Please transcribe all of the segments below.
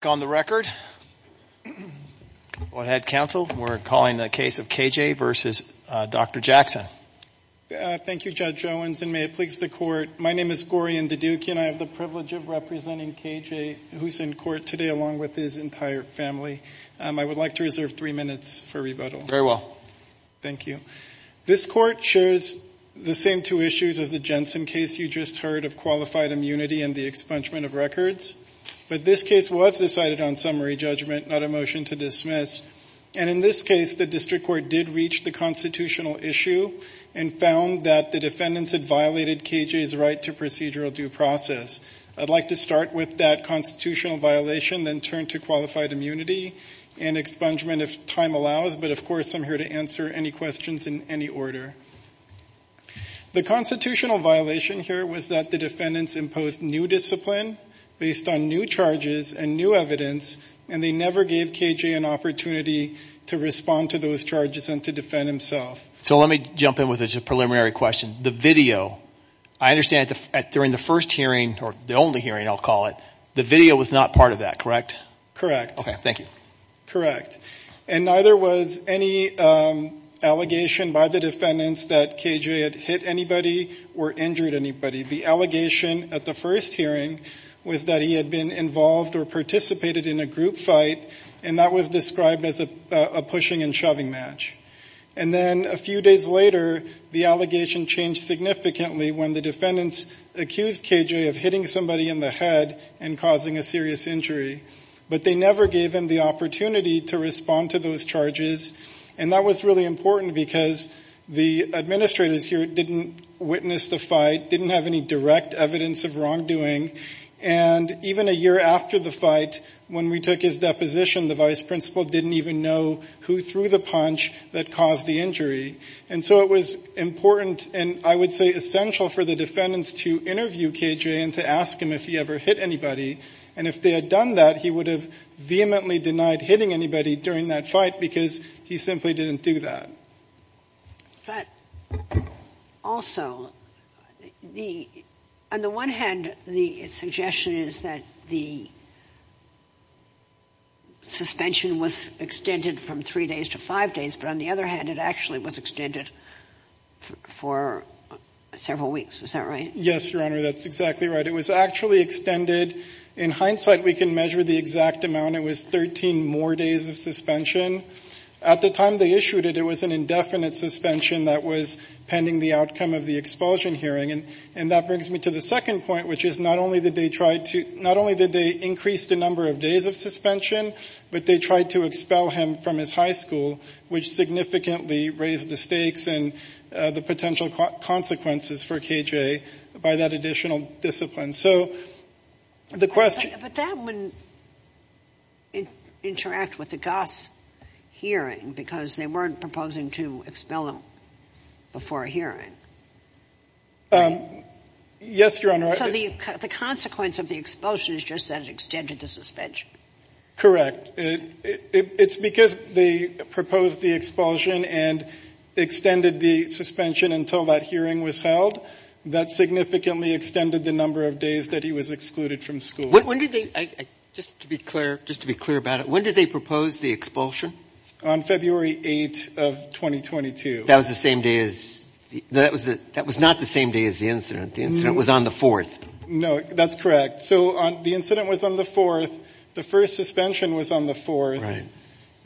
Thank you, Judge Owens, and may it please the Court, my name is Gaurian Deduca and I have the privilege of representing K. J. who is in court today along with his entire family. I would like to reserve three minutes for rebuttal. Very well. Thank you. This Court shares the same two issues as the Jensen case you just heard of qualified immunity and the expungement of records, but this case was decided on summary judgment, not a motion to dismiss, and in this case the District Court did reach the constitutional issue and found that the defendants had violated K. J.'s right to procedural due process. I'd like to start with that constitutional violation, then turn to qualified immunity and expungement if time allows, but of course I'm here to answer any questions in any order. The constitutional violation here was that the defendants imposed new discipline based on new charges and new evidence and they never gave K. J. an opportunity to respond to those charges and to defend himself. So let me jump in with a preliminary question. The video, I understand during the first hearing, or the only hearing I'll call it, the video was not part of that, correct? Correct. Okay, thank you. Correct. And neither was any allegation by the defendants that K. J. had hit anybody or injured anybody. The allegation at the first hearing was that he had been involved or participated in a group fight and that was described as a pushing and shoving match. And then a few days later, the allegation changed significantly when the defendants accused K. J. of hitting somebody in the head and causing a serious injury. But they never gave him the opportunity to respond to those charges and that was really important because the administrators here didn't witness the fight, didn't have any direct evidence of wrongdoing, and even a year after the fight when we took his deposition, the vice principal didn't even know who threw the punch that caused the injury. And so it was important and I would say essential for the defendants to interview K. J. and to ask him if he ever hit anybody. And if they had done that, he would have vehemently denied hitting anybody during that fight because he simply didn't do that. But also, on the one hand, the suggestion is that the suspension was extended from three days to five days, but on the other hand, it actually was extended for several weeks. Is that right? Yes, Your Honor, that's exactly right. It was actually extended. In hindsight, we can measure the exact amount. It was 13 more days of suspension. At the time they issued it, it was an indefinite suspension that was pending the outcome of the expulsion hearing. And that brings me to the second point, which is not only did they increase the number of days of suspension, but they tried to expel him from his high school, which significantly raised the stakes and the potential consequences for K. J. by that additional discipline. So the question. But that wouldn't interact with the Goss hearing because they weren't proposing to expel him before a hearing. Yes, Your Honor. So the consequence of the expulsion is just that it extended the suspension. Correct. It's because they proposed the expulsion and extended the suspension until that hearing was held. That significantly extended the number of days that he was excluded from school. When did they, just to be clear, just to be clear about it, when did they propose the expulsion? On February 8th of 2022. That was the same day as, that was not the same day as the incident. The incident was on the fourth. No, that's correct. So the incident was on the fourth. The first suspension was on the fourth. Right.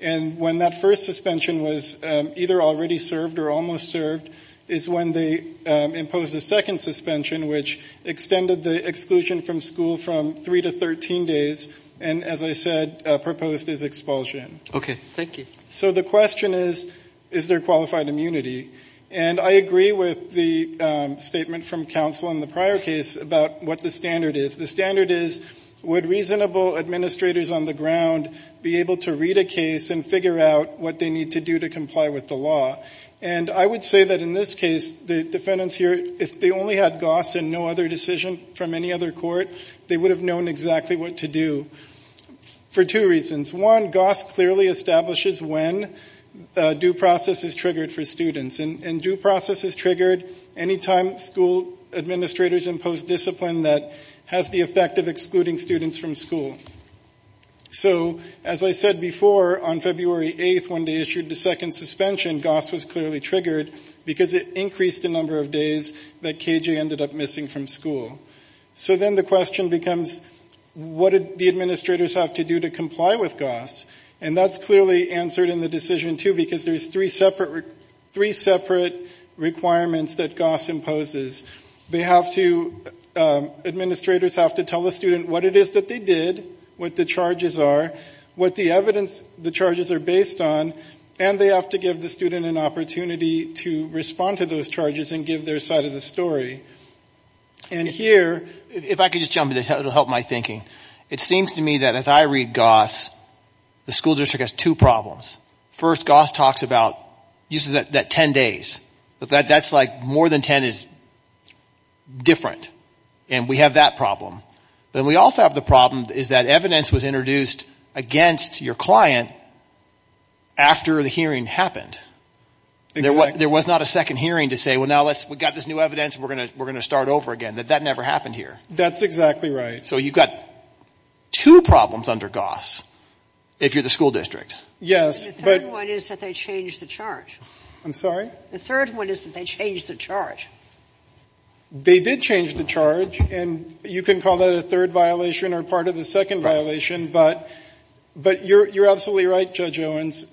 And when that first suspension was either already served or almost served is when they imposed a second suspension, which extended the exclusion from school from three to 13 days. And as I said, proposed his expulsion. Okay, thank you. So the question is, is there qualified immunity? And I agree with the statement from counsel in the prior case about what the standard is. The standard is, would reasonable administrators on the ground be able to read a case and figure out what they need to do to comply with the law? And I would say that in this case, the defendants here, if they only had Goss and no other decision from any other court, they would have known exactly what to do for two reasons. One, Goss clearly establishes when due process is triggered for students. And due process is triggered any time school administrators impose discipline that has the effect of excluding students from school. So as I said before, on February 8th, when they issued the second suspension, Goss was clearly triggered because it increased the number of days that KJ ended up missing from school. So then the question becomes, what did the administrators have to do to comply with Goss? And that's clearly answered in the decision too, because there's three separate requirements that Goss imposes. They have to, administrators have to tell the student what it is that they did, what the charges are, what the evidence the charges are based on, and they have to give the student an opportunity to respond to those charges and give their side of the story. And here, if I could just jump in this, it'll help my thinking. It seems to me that as I read Goss, the school district has two problems. First, Goss talks about, uses that 10 days. That's like more than 10 is different. And we have that problem. Then we also have the problem is that evidence was introduced against your client after the hearing happened. There was not a second hearing to say, well now let's, we got this new evidence, we're going to start over again. That that never happened here. That's exactly right. So you've got two problems under Goss, if you're the school district. Yes. The third one is that they changed the charge. I'm sorry? The third one is that they changed the charge. They did change the charge, and you can call that a third violation or part of the second violation, but you're absolutely right, Judge Owens.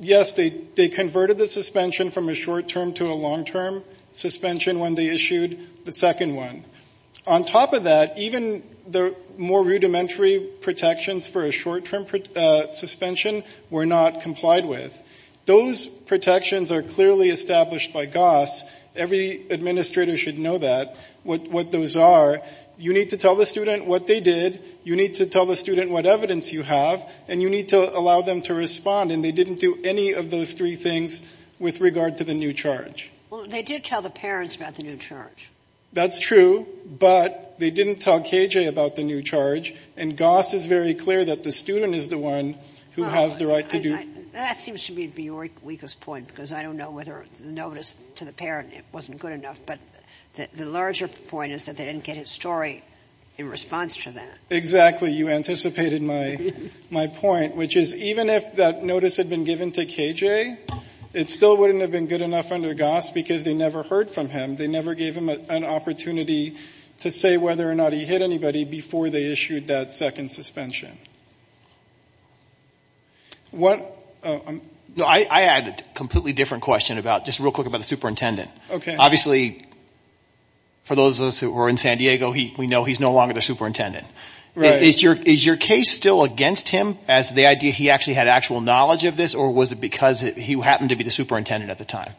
Yes, they converted the suspension from a short term to a long term suspension when they issued the second one. On top of that, even the more rudimentary protections for a short term suspension were not complied with. Those protections are clearly established by Goss. Every administrator should know that, what those are. You need to tell the student what they did. You need to tell the student what evidence you have. And you need to allow them to respond. And they didn't do any of those three things with regard to the new charge. Well, they did tell the parents about the new charge. That's true, but they didn't tell KJ about the new charge. And Goss is very clear that the student is the one who has the right to do it. That seems to be your weakest point, because I don't know whether the notice to the parent wasn't good enough. But the larger point is that they didn't get his story in response to that. Exactly. You anticipated my point, which is even if that notice had been given to KJ, it still wouldn't have been good enough under Goss because they never heard from him. They never gave him an opportunity to say whether or not he hit anybody before they issued that second suspension. I had a completely different question, just real quick, about the superintendent. Obviously, for those of us who were in San Diego, we know he's no longer the superintendent. Is your case still against him as the idea he actually had actual knowledge of this? Or was it because he happened to be the superintendent at the time?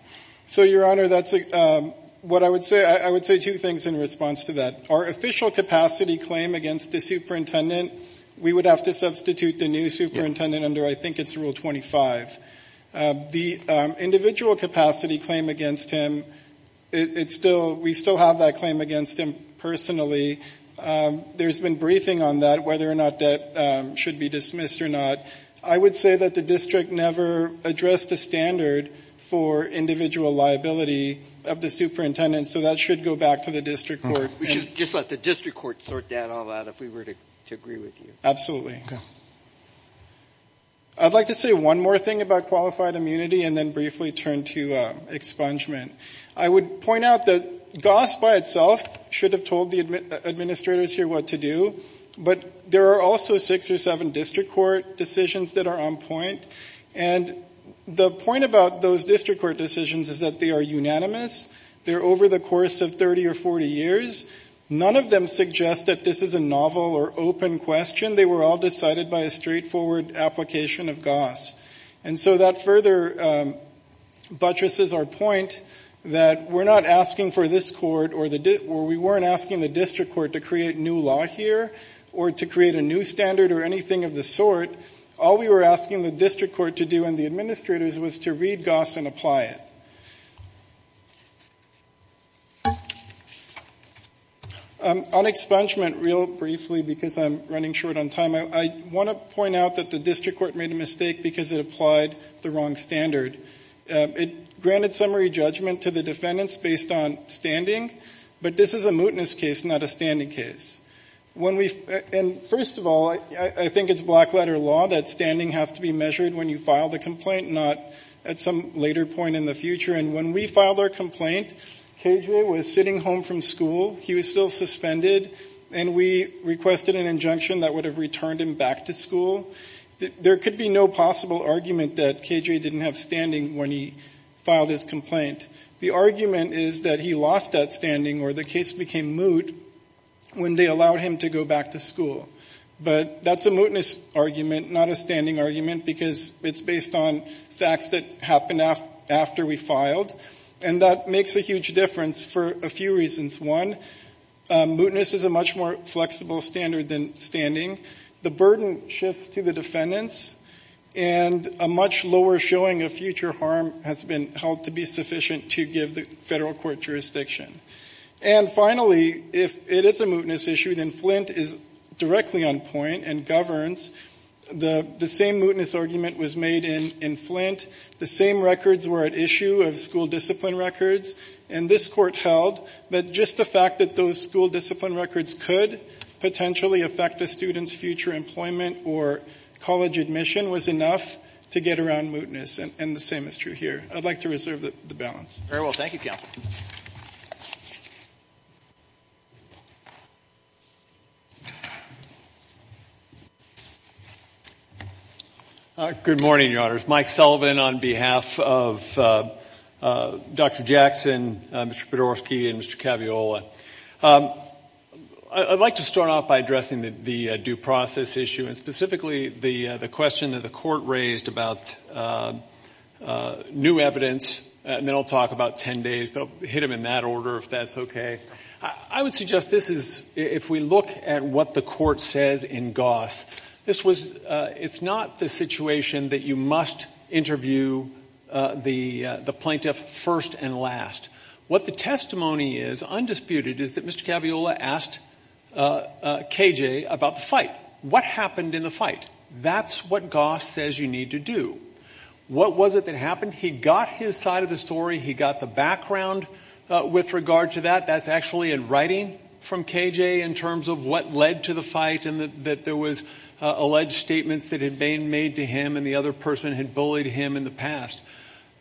So, Your Honor, I would say two things in response to that. Our official capacity claim against the superintendent, we would have to substitute the new superintendent under, I think it's rule 25. The individual capacity claim against him, we still have that claim against him personally. There's been briefing on that, whether or not that should be dismissed or not. I would say that the district never addressed the standard for individual liability of the superintendent. So that should go back to the district court. We should just let the district court sort that all out if we were to agree with you. Absolutely. I'd like to say one more thing about qualified immunity and then briefly turn to expungement. I would point out that Goss by itself should have told the administrators here what to do. But there are also six or seven district court decisions that are on point. And the point about those district court decisions is that they are unanimous. They're over the course of 30 or 40 years. None of them suggest that this is a novel or open question. They were all decided by a straightforward application of Goss. And so that further buttresses our point that we're not asking for this court or we weren't asking the district court to create new law here or to create a new standard or anything of the sort. All we were asking the district court to do and the administrators was to read Goss and apply it. On expungement, real briefly because I'm running short on time, I want to point out that the district court made a mistake because it applied the wrong standard. It granted summary judgment to the defendants based on standing. But this is a mootness case, not a standing case. And first of all, I think it's black letter law that standing has to be measured when you file the complaint, not at some later point in the future. And when we filed our complaint, KJ was sitting home from school. He was still suspended and we requested an injunction that would have returned him back to school. There could be no possible argument that KJ didn't have standing when he filed his complaint. The argument is that he lost that standing or the case became moot when they allowed him to go back to school. But that's a mootness argument, not a standing argument because it's based on facts that happened after we filed. And that makes a huge difference for a few reasons. One, mootness is a much more flexible standard than standing. The burden shifts to the defendants. And a much lower showing of future harm has been held to be sufficient to give the federal court jurisdiction. And finally, if it is a mootness issue, then Flint is directly on point and governs. The same mootness argument was made in Flint. The same records were at issue of school discipline records. And this court held that just the fact that those school discipline records could potentially affect a student's future employment or college admission was enough to get around mootness. And the same is true here. I'd like to reserve the balance. Very well, thank you, Counsel. Good morning, Your Honors. Mike Sullivan on behalf of Dr. Jackson, Mr. Bedorsky, and Mr. Caviola. I'd like to start off by addressing the due process issue and specifically the question that the court raised about new evidence. And then I'll talk about ten days, but I'll hit them in that order if that's okay. I would suggest this is, if we look at what the court says in Goss, this was, it's not the situation that you must interview the plaintiff first and last. What the testimony is, undisputed, is that Mr. Caviola asked KJ about the fight. What happened in the fight? That's what Goss says you need to do. What was it that happened? He got his side of the story, he got the background with regard to that. That's actually in writing from KJ in terms of what led to the fight and that there was alleged statements that had been made to him and the other person had bullied him in the past.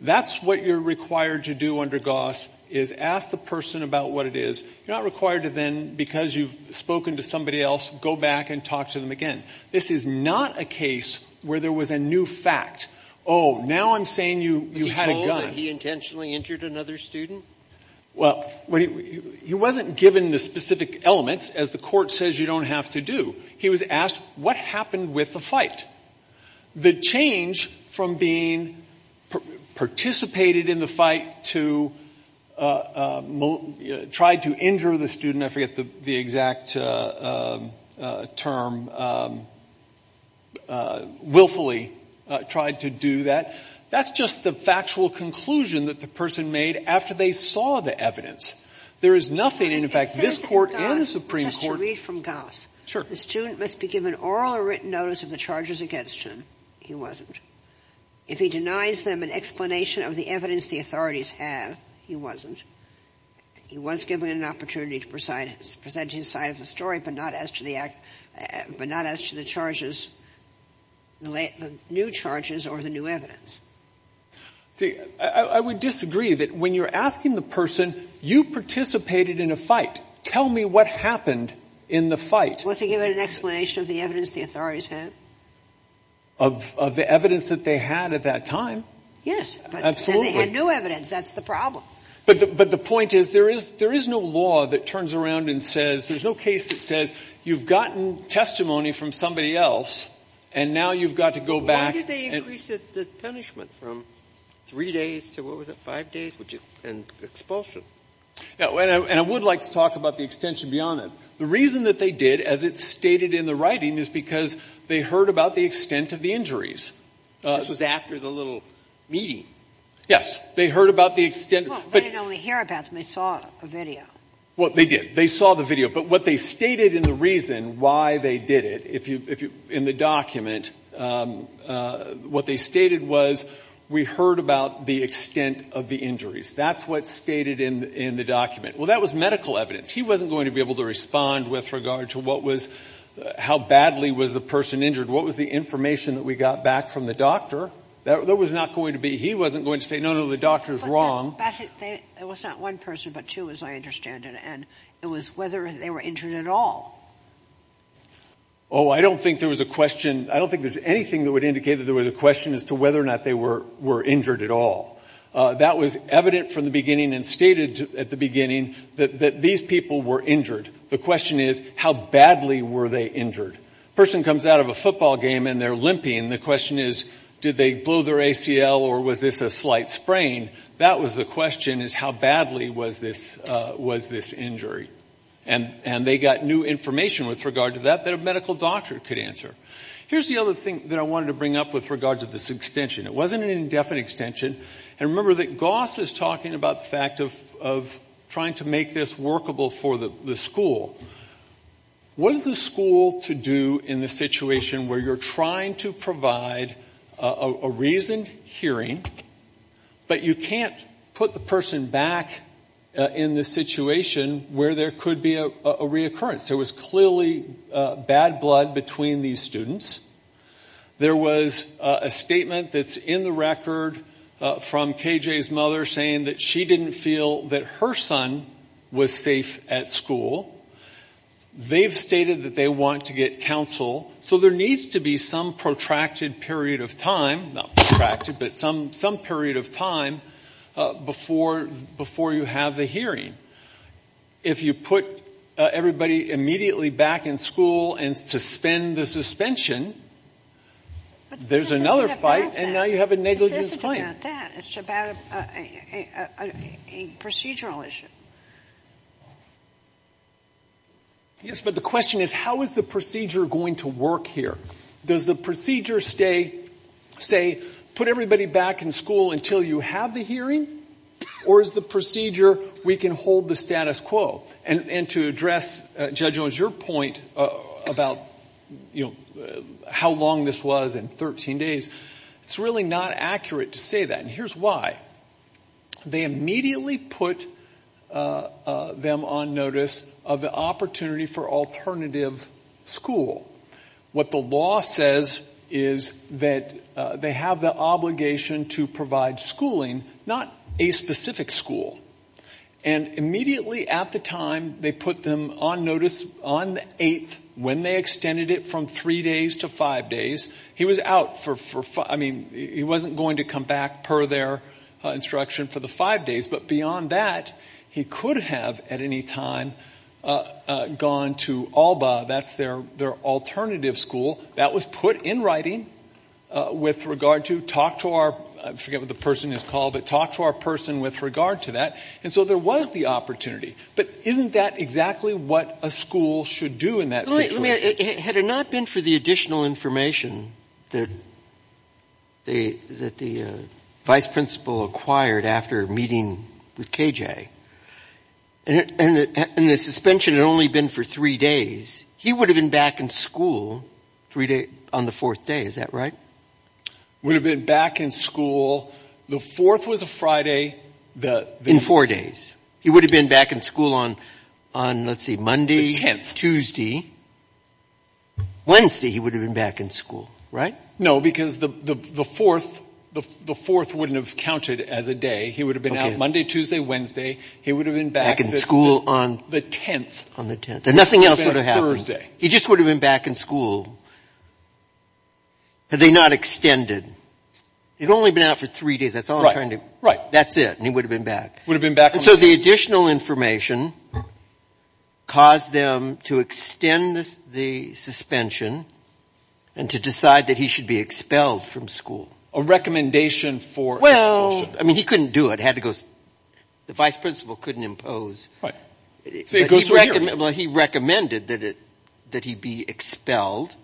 That's what you're required to do under Goss, is ask the person about what it is. You're not required to then, because you've spoken to somebody else, go back and talk to them again. This is not a case where there was a new fact. Oh, now I'm saying you had a gun. Was he told that he intentionally injured another student? Well, he wasn't given the specific elements, as the court says you don't have to do. He was asked, what happened with the fight? The change from being participated in the fight to tried to injure the student, I forget the exact term, willfully tried to do that. That's just the factual conclusion that the person made after they saw the evidence. There is nothing, in fact, this court and the Supreme Court- Just to read from Goss. Sure. The student must be given oral or written notice of the charges against him. He wasn't. If he denies them an explanation of the evidence the authorities have, he wasn't. He was given an opportunity to present his side of the story, but not as to the charges, the new charges or the new evidence. See, I would disagree that when you're asking the person, you participated in a fight. Tell me what happened in the fight. Was he given an explanation of the evidence the authorities had? Of the evidence that they had at that time? Yes, but then they had new evidence. That's the problem. But the point is, there is no law that turns around and says, there's no case that says you've gotten testimony from somebody else, and now you've got to go back- Why did they increase the punishment from three days to, what was it, five days, and expulsion? And I would like to talk about the extension beyond that. The reason that they did, as it's stated in the writing, is because they heard about the extent of the injuries. This was after the little meeting. Yes. They heard about the extent- Well, they didn't only hear about them, they saw a video. Well, they did. They saw the video. But what they stated in the reason why they did it, in the document, what they stated was, we heard about the extent of the injuries. That's what's stated in the document. Well, that was medical evidence. He wasn't going to be able to respond with regard to how badly was the person injured. What was the information that we got back from the doctor? That was not going to be, he wasn't going to say, no, no, the doctor's wrong. But it was not one person, but two, as I understand it. And it was whether they were injured at all. Oh, I don't think there was a question. I don't think there's anything that would indicate that there was a question as to whether or not they were injured at all. That was evident from the beginning and stated at the beginning that these people were injured. The question is, how badly were they injured? A person comes out of a football game and they're limping. The question is, did they blow their ACL or was this a slight sprain? That was the question, is how badly was this injury? And they got new information with regard to that that a medical doctor could answer. Here's the other thing that I wanted to bring up with regard to this extension. It wasn't an indefinite extension. And remember that Goss is talking about the fact of trying to make this workable for the school. What is the school to do in the situation where you're trying to provide a reasoned hearing, but you can't put the person back in the situation where there could be a reoccurrence? There was clearly bad blood between these students. There was a statement that's in the record from KJ's mother saying that she didn't feel that her son was safe at school. They've stated that they want to get counsel. So there needs to be some protracted period of time, not protracted, but some period of time before you have the hearing. If you put everybody immediately back in school and suspend the suspension, there's another fight and now you have a negligence claim. It's not about that. It's about a procedural issue. Yes, but the question is how is the procedure going to work here? Does the procedure stay, say, put everybody back in school until you have the hearing? Or is the procedure we can hold the status quo? And to address, Judge Owens, your point about, you know, how long this was in 13 days, it's really not accurate to say that. And here's why. They immediately put them on notice of the opportunity for alternative school. What the law says is that they have the obligation to provide schooling, not a specific school. And immediately at the time they put them on notice on the 8th, when they extended it from three days to five days, he was out for, I mean, he wasn't going to come back per their instruction for the five days. But beyond that, he could have at any time gone to ALBA. That's their alternative school. That was put in writing with regard to talk to our, I forget what the person is called, but talk to our person with regard to that. And so there was the opportunity. But isn't that exactly what a school should do in that situation? I mean, had it not been for the additional information that the vice principal acquired after meeting with K.J., and the suspension had only been for three days, he would have been back in school on the fourth day. Is that right? Would have been back in school. The fourth was a Friday. In four days. He would have been back in school on, let's see, Monday. Monday, Tuesday, Wednesday, he would have been back in school, right? No, because the fourth wouldn't have counted as a day. He would have been out Monday, Tuesday, Wednesday. He would have been back in school on the 10th. Nothing else would have happened. He just would have been back in school had they not extended. He'd only been out for three days. That's all I'm trying to, that's it. And he would have been back. Would have been back. And so the additional information caused them to extend the suspension and to decide that he should be expelled from school. A recommendation for expulsion. I mean, he couldn't do it. Had to go, the vice principal couldn't impose. Right. So he goes to a hearing. Well, he recommended that he be expelled,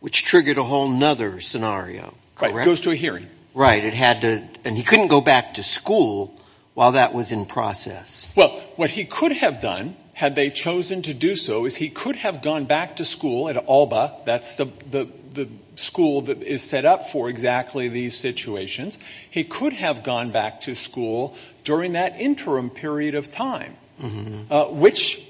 which triggered a whole other scenario. Right, goes to a hearing. Right. And he couldn't go back to school while that was in process. Well, what he could have done, had they chosen to do so, is he could have gone back to school at ALBA. That's the school that is set up for exactly these situations. He could have gone back to school during that interim period of time, which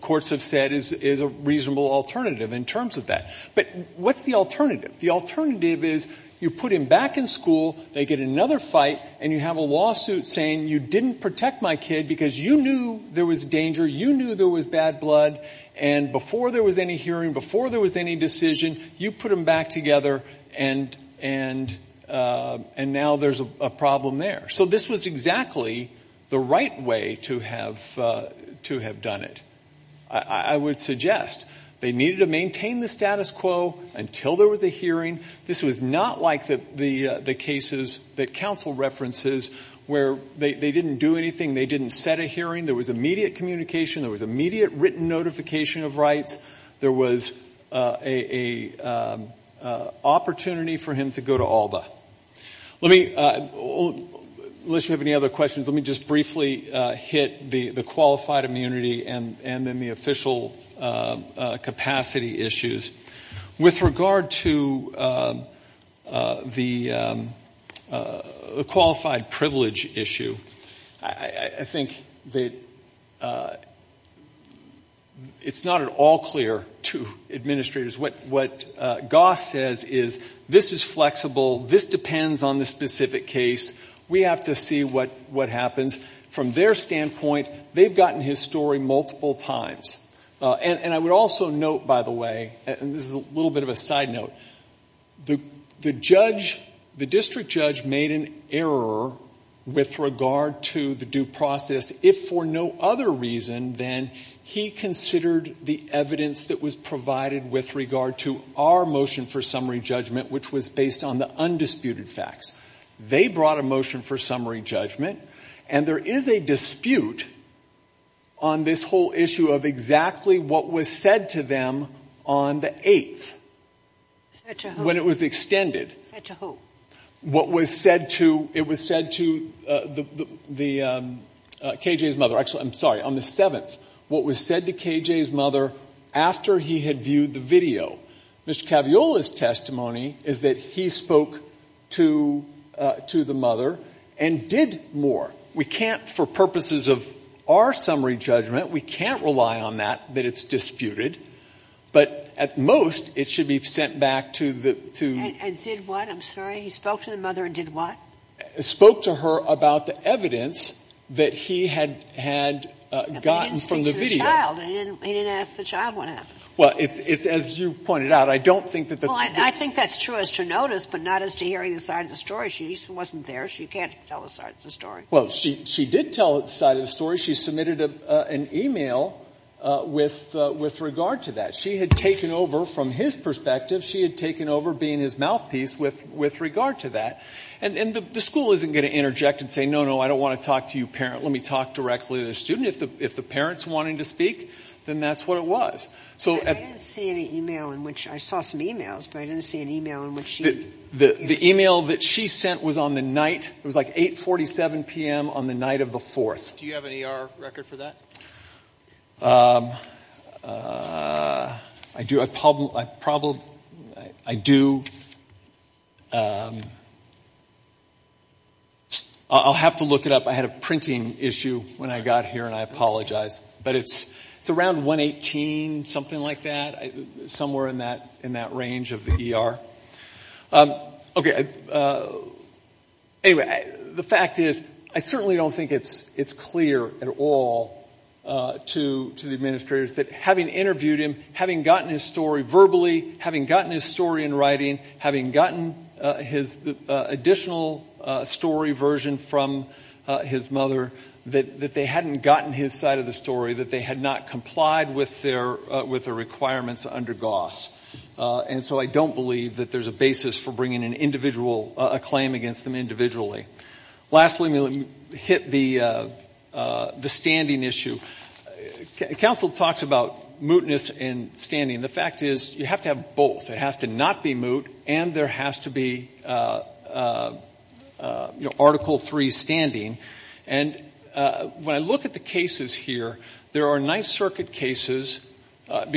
courts have said is a reasonable alternative in terms of that. But what's the alternative? The alternative is you put him back in school. They get another fight. And you have a lawsuit saying you didn't protect my kid because you knew there was danger. You knew there was bad blood. And before there was any hearing, before there was any decision, you put them back together and now there's a problem there. So this was exactly the right way to have done it. I would suggest they needed to maintain the status quo until there was a hearing. This was not like the cases that counsel references where they didn't do anything. They didn't set a hearing. There was immediate communication. There was immediate written notification of rights. There was an opportunity for him to go to ALBA. Let me, unless you have any other questions, let me just briefly hit the qualified immunity and then the official capacity issues. With regard to the qualified privilege issue, I think that it's not at all clear to administrators. What Goss says is this is flexible. This depends on the specific case. We have to see what happens. From their standpoint, they've gotten his story multiple times. And I would also note, by the way, and this is a little bit of a side note, the district judge made an error with regard to the due process if for no other reason than he considered the evidence that was provided with regard to our motion for summary judgment, which was based on the undisputed facts. They brought a motion for summary judgment, and there is a dispute on this whole issue of exactly what was said to them on the 8th when it was extended. Said to who? What was said to, it was said to the, KJ's mother, actually, I'm sorry, on the 7th. What was said to KJ's mother after he had viewed the video. Mr. Caviola's testimony is that he spoke to the mother and did more. We can't, for purposes of our summary judgment, we can't rely on that, but it's disputed. But at most, it should be sent back to the, to. And did what, I'm sorry? He spoke to the mother and did what? Spoke to her about the evidence that he had gotten from the video. He didn't speak to the child. He didn't ask the child what happened. Well, it's, as you pointed out, I don't think that the. Well, I think that's true as to notice, but not as to hearing the side of the story. She wasn't there. She can't tell the side of the story. Well, she did tell the side of the story. She submitted an email with regard to that. She had taken over from his perspective. She had taken over being his mouthpiece with regard to that. And the school isn't going to interject and say, no, no, I don't want to talk to you parent. Let me talk directly to the student. If the parent's wanting to speak, then that's what it was. I didn't see any email in which, I saw some emails, but I didn't see an email in which she. The email that she sent was on the night. It was like 8.47 p.m. on the night of the 4th. Do you have an ER record for that? I do. I'll have to look it up. I had a printing issue when I got here and I apologize. But it's around 118, something like that, somewhere in that range of the ER. Anyway, the fact is, I certainly don't think it's clear at all to the administrators that having interviewed him, having gotten his story verbally, having gotten his story in writing, having gotten his additional story version from his mother, that they hadn't gotten his side of the story, that they had not complied with the requirements under GOSS. And so I don't believe that there's a basis for bringing an individual, a claim against them individually. Lastly, let me hit the standing issue. Council talks about mootness and standing. The fact is, you have to have both. It has to not be moot and there has to be, you know, Article III standing. And when I look at the cases here, there are Ninth Circuit cases, let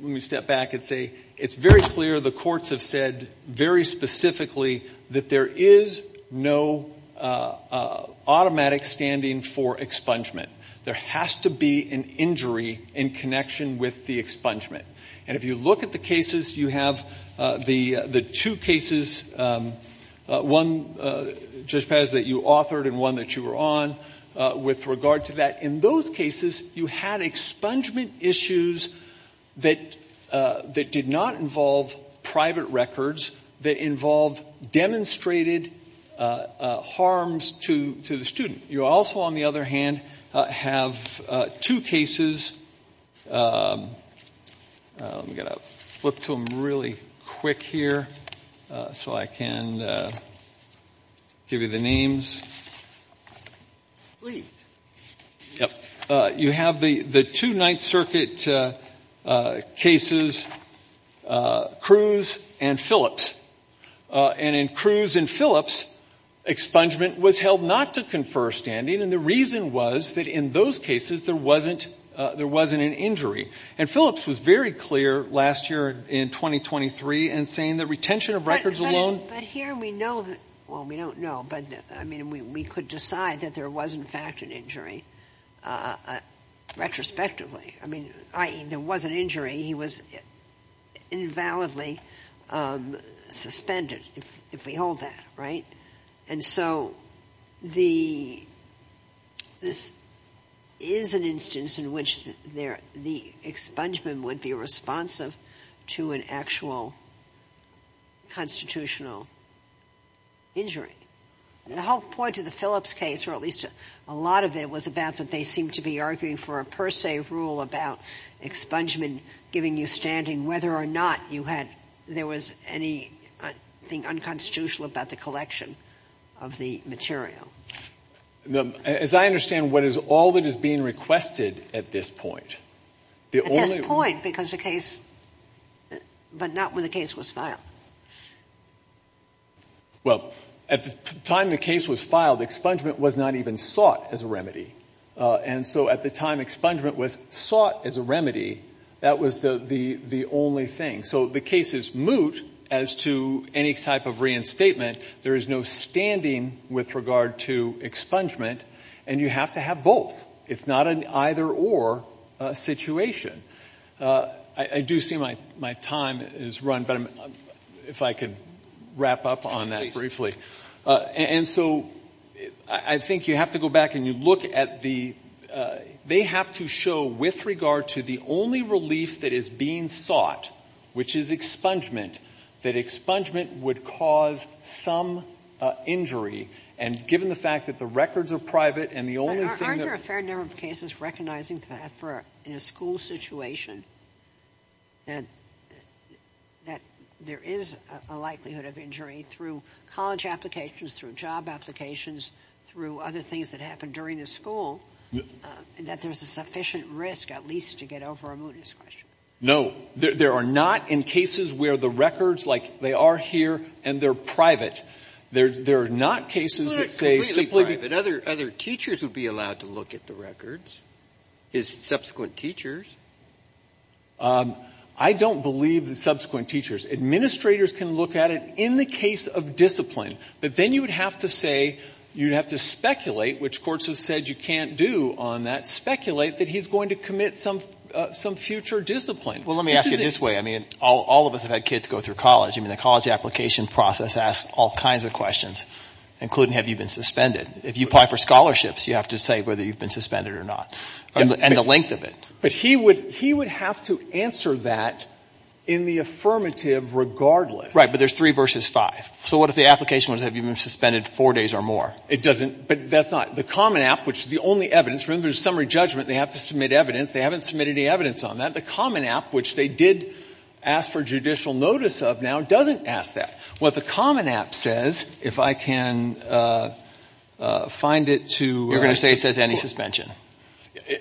me step back and say, it's very clear, the courts have said very specifically that there is no automatic standing for expungement. There has to be an injury in connection with the expungement. And if you look at the cases, you have the two cases, one, Judge Paz, that you authored and one that you were on with regard to that. In those cases, you had expungement issues that did not involve private records that involved demonstrated harms to the student. You also, on the other hand, have two cases, I'm going to flip to them really quick here so I can give you the names. You have the two Ninth Circuit cases, Cruz and Phillips. And in Cruz and Phillips, expungement was held not to confer standing and the reason was that in those cases, there wasn't an injury. And Phillips was very clear last year in 2023 in saying that retention of records alone. But here we know that, well, we don't know, but I mean, we could decide that there was in fact an injury retrospectively. I mean, i.e., there was an injury, he was invalidly suspended, if we hold that, right? And so the this is an instance in which the expungement would be responsive to an actual constitutional injury. The whole point of the Phillips case, or at least a lot of it, was about that they seem to be arguing for a per se rule about expungement giving you standing, whether or not you had, there was anything unconstitutional about the collection of the material. As I understand, what is all that is being requested at this point? At this point, because the case, but not when the case was filed. Well, at the time the case was filed, expungement was not even sought as a remedy. And so at the time expungement was sought as a remedy, that was the only thing. So the case is moot as to any type of reinstatement. There is no standing with regard to expungement and you have to have both. It's not an either or situation. I do see my time is run, but if I could wrap up on that briefly. And so I think you have to go back and you look at the, they have to show with regard to the only relief that is being sought, which is expungement, that expungement would cause some injury. And given the fact that the records are private and the only thing that. There are a fair number of cases recognizing that for in a school situation. And that there is a likelihood of injury through college applications, through job applications, through other things that happen during the school. And that there's a sufficient risk, at least, to get over a mootness question. No, there are not in cases where the records, like they are here and they're private. There are not cases that say simply. But other teachers would be allowed to look at the records, his subsequent teachers. I don't believe the subsequent teachers. Administrators can look at it in the case of discipline. But then you would have to say, you'd have to speculate, which courts have said you can't do on that. Speculate that he's going to commit some future discipline. Well, let me ask you this way. I mean, all of us have had kids go through college. I mean, the college application process asks all kinds of questions, including, have you been suspended? If you apply for scholarships, you have to say whether you've been suspended or not, and the length of it. But he would have to answer that in the affirmative regardless. Right. But there's three versus five. So what if the application was, have you been suspended four days or more? It doesn't, but that's not. The common app, which is the only evidence. Remember, there's summary judgment. They have to submit evidence. They haven't submitted any evidence on that. The common app, which they did ask for judicial notice of now, doesn't ask that. What the common app says, if I can find it to where I say it says any suspension.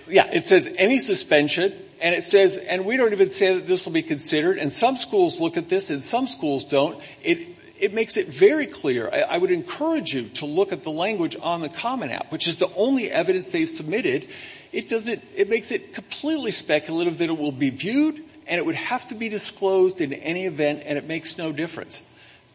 Yeah. It says any suspension, and it says, and we don't even say that this will be considered. And some schools look at this, and some schools don't. It makes it very clear. I would encourage you to look at the language on the common app, which is the only evidence they submitted. It doesn't, it makes it completely speculative that it will be viewed, and it would have to be disclosed in any event, and it makes no difference.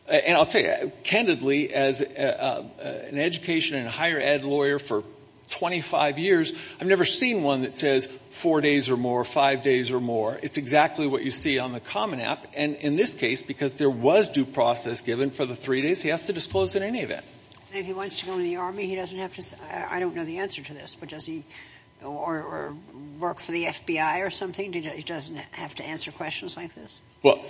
And I'll tell you, candidly, as an education and higher ed lawyer for 25 years, I've never seen one that says four days or more, five days or more. It's exactly what you see on the common app. And in this case, because there was due process given for the three days, he has to disclose in any event. And if he wants to go into the Army, he doesn't have to say, I don't know the answer to this, but does he, or work for the FBI or something? He doesn't have to answer questions like this? Well,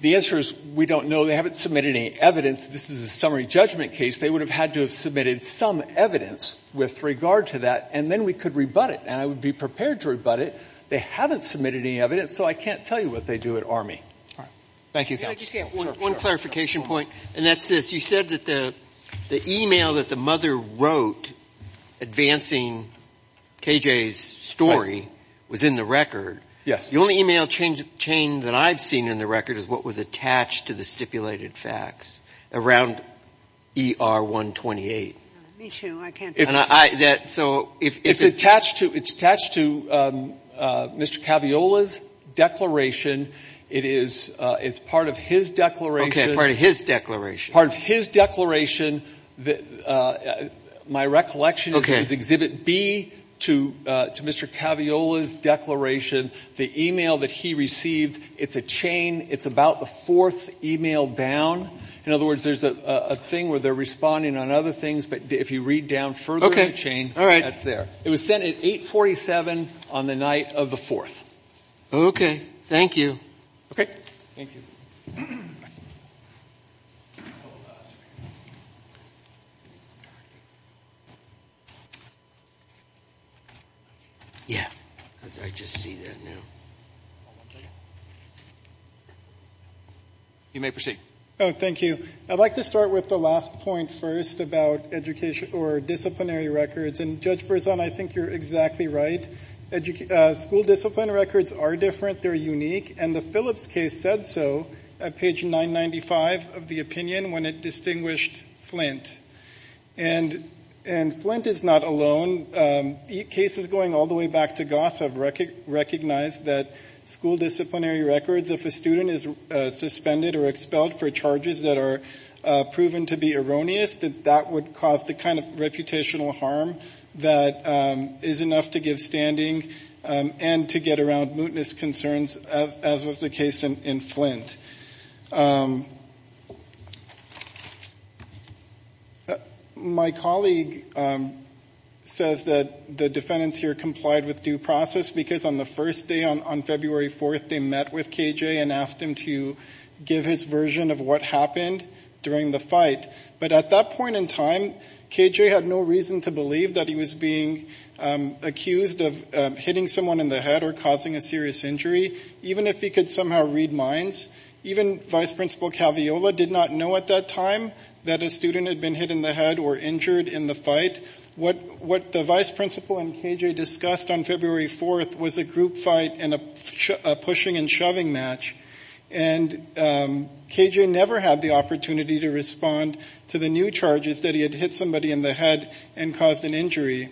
the answer is we don't know. They haven't submitted any evidence. This is a summary judgment case. They would have had to have submitted some evidence with regard to that, and then we could rebut it. And I would be prepared to rebut it. They haven't submitted any evidence, so I can't tell you what they do at Army. All right. Thank you, counsel. Can I just add one clarification point? Sure. And that's this. You said that the email that the mother wrote advancing KJ's story was in the record. Yes. The only email chain that I've seen in the record is what was attached to the stipulated facts around ER-128. Me too. I can't. So if it's attached to Mr. Caviola's declaration, it's part of his declaration. Okay, part of his declaration. Part of his declaration. My recollection is Exhibit B to Mr. Caviola's declaration, the email that he received, it's a chain. It's about the fourth email down. In other words, there's a thing where they're responding on other things, but if you read down further in the chain, that's there. It was sent at 847 on the night of the 4th. Okay. Thank you. Okay. Thank you. Yeah, as I just see that now. You may proceed. Oh, thank you. I'd like to start with the last point first about disciplinary records. And Judge Berzon, I think you're exactly right. School discipline records are different. They're unique. And the Phillips case said so at page 995 of the opinion when it distinguished Flint. And Flint is not alone. Cases going all the way back to Goss have recognized that school disciplinary records, if a student is suspended or expelled for charges that are proven to be erroneous, that that would cause the kind of reputational harm that is enough to give standing and to get around mootness concerns as was the case in Flint. My colleague says that the defendants here complied with due process because on the first day, on February 4th, they met with KJ and asked him to give his version of what happened during the fight. But at that point in time, KJ had no reason to believe that he was being accused of hitting someone in the head or causing a serious injury, even if he could somehow read minds. Even Vice Principal Caviola did not know at that time that a student had been hit in the head or injured in the fight. What the Vice Principal and KJ discussed on February 4th was a group fight and a pushing and shoving match. And KJ never had the opportunity to respond to the new charges that he had hit somebody in the head and caused an injury.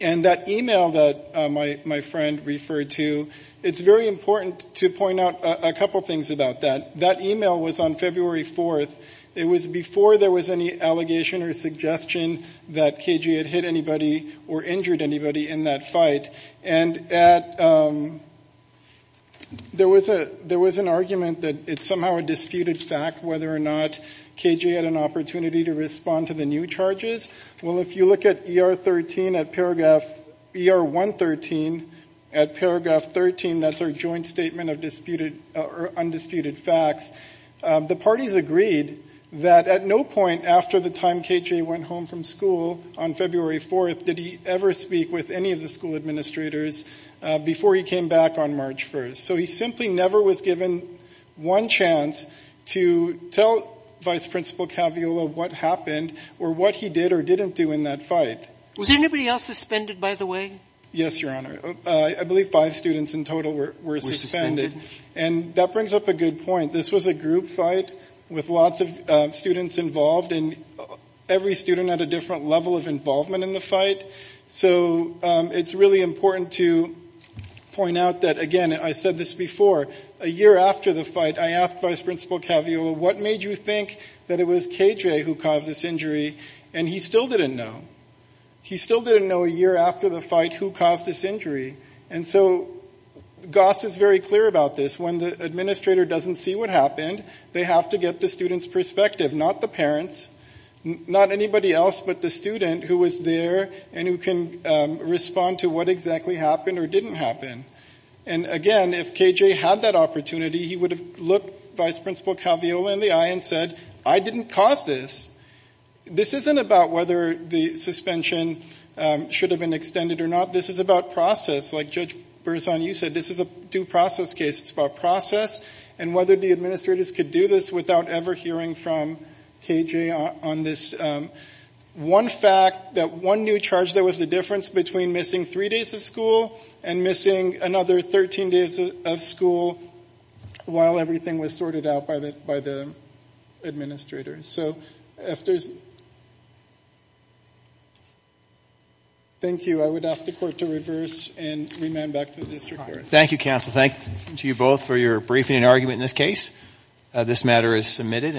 And that email that my friend referred to, it's very important to point out a couple things about that. That email was on February 4th. It was before there was any allegation or suggestion that KJ had hit anybody or injured anybody in that fight. And there was an argument that it's somehow a disputed fact whether or not KJ had an opportunity to respond to the new charges. Well, if you look at ER 113, at paragraph 13, that's our joint statement of undisputed facts. The parties agreed that at no point after the time KJ went home from school on February 4th, did he ever speak with any of the school administrators before he came back on March 1st. So he simply never was given one chance to tell Vice Principal Caviola what happened or what he did or didn't do in that fight. Was anybody else suspended by the way? Yes, Your Honor. I believe five students in total were suspended. And that brings up a good point. This was a group fight with lots of students involved. And every student had a different level of involvement in the fight. So it's really important to point out that, again, I said this before, a year after the fight, I asked Vice Principal Caviola, what made you think that it was KJ who caused this injury? And he still didn't know. He still didn't know a year after the fight who caused this injury. And so Goss is very clear about this. When the administrator doesn't see what happened, they have to get the student's perspective, not the parent's, not anybody else but the student who was there and who can respond to what exactly happened or didn't happen. And again, if KJ had that opportunity, he would have looked Vice Principal Caviola in the eye and said, I didn't cause this. This isn't about whether the suspension should have been extended or not. This is about process. Like Judge Berzon, you said, this is a due process case. It's about process and whether the administrators could do this without ever hearing from KJ on this one fact that one new charge that was the difference between missing three days of school and missing another 13 days of school while everything was sorted out by the administrator. So if there's, thank you. I would ask the court to reverse and remand back to the district court. Thank you, counsel. Thank you both for your briefing and argument in this case. This matter is submitted.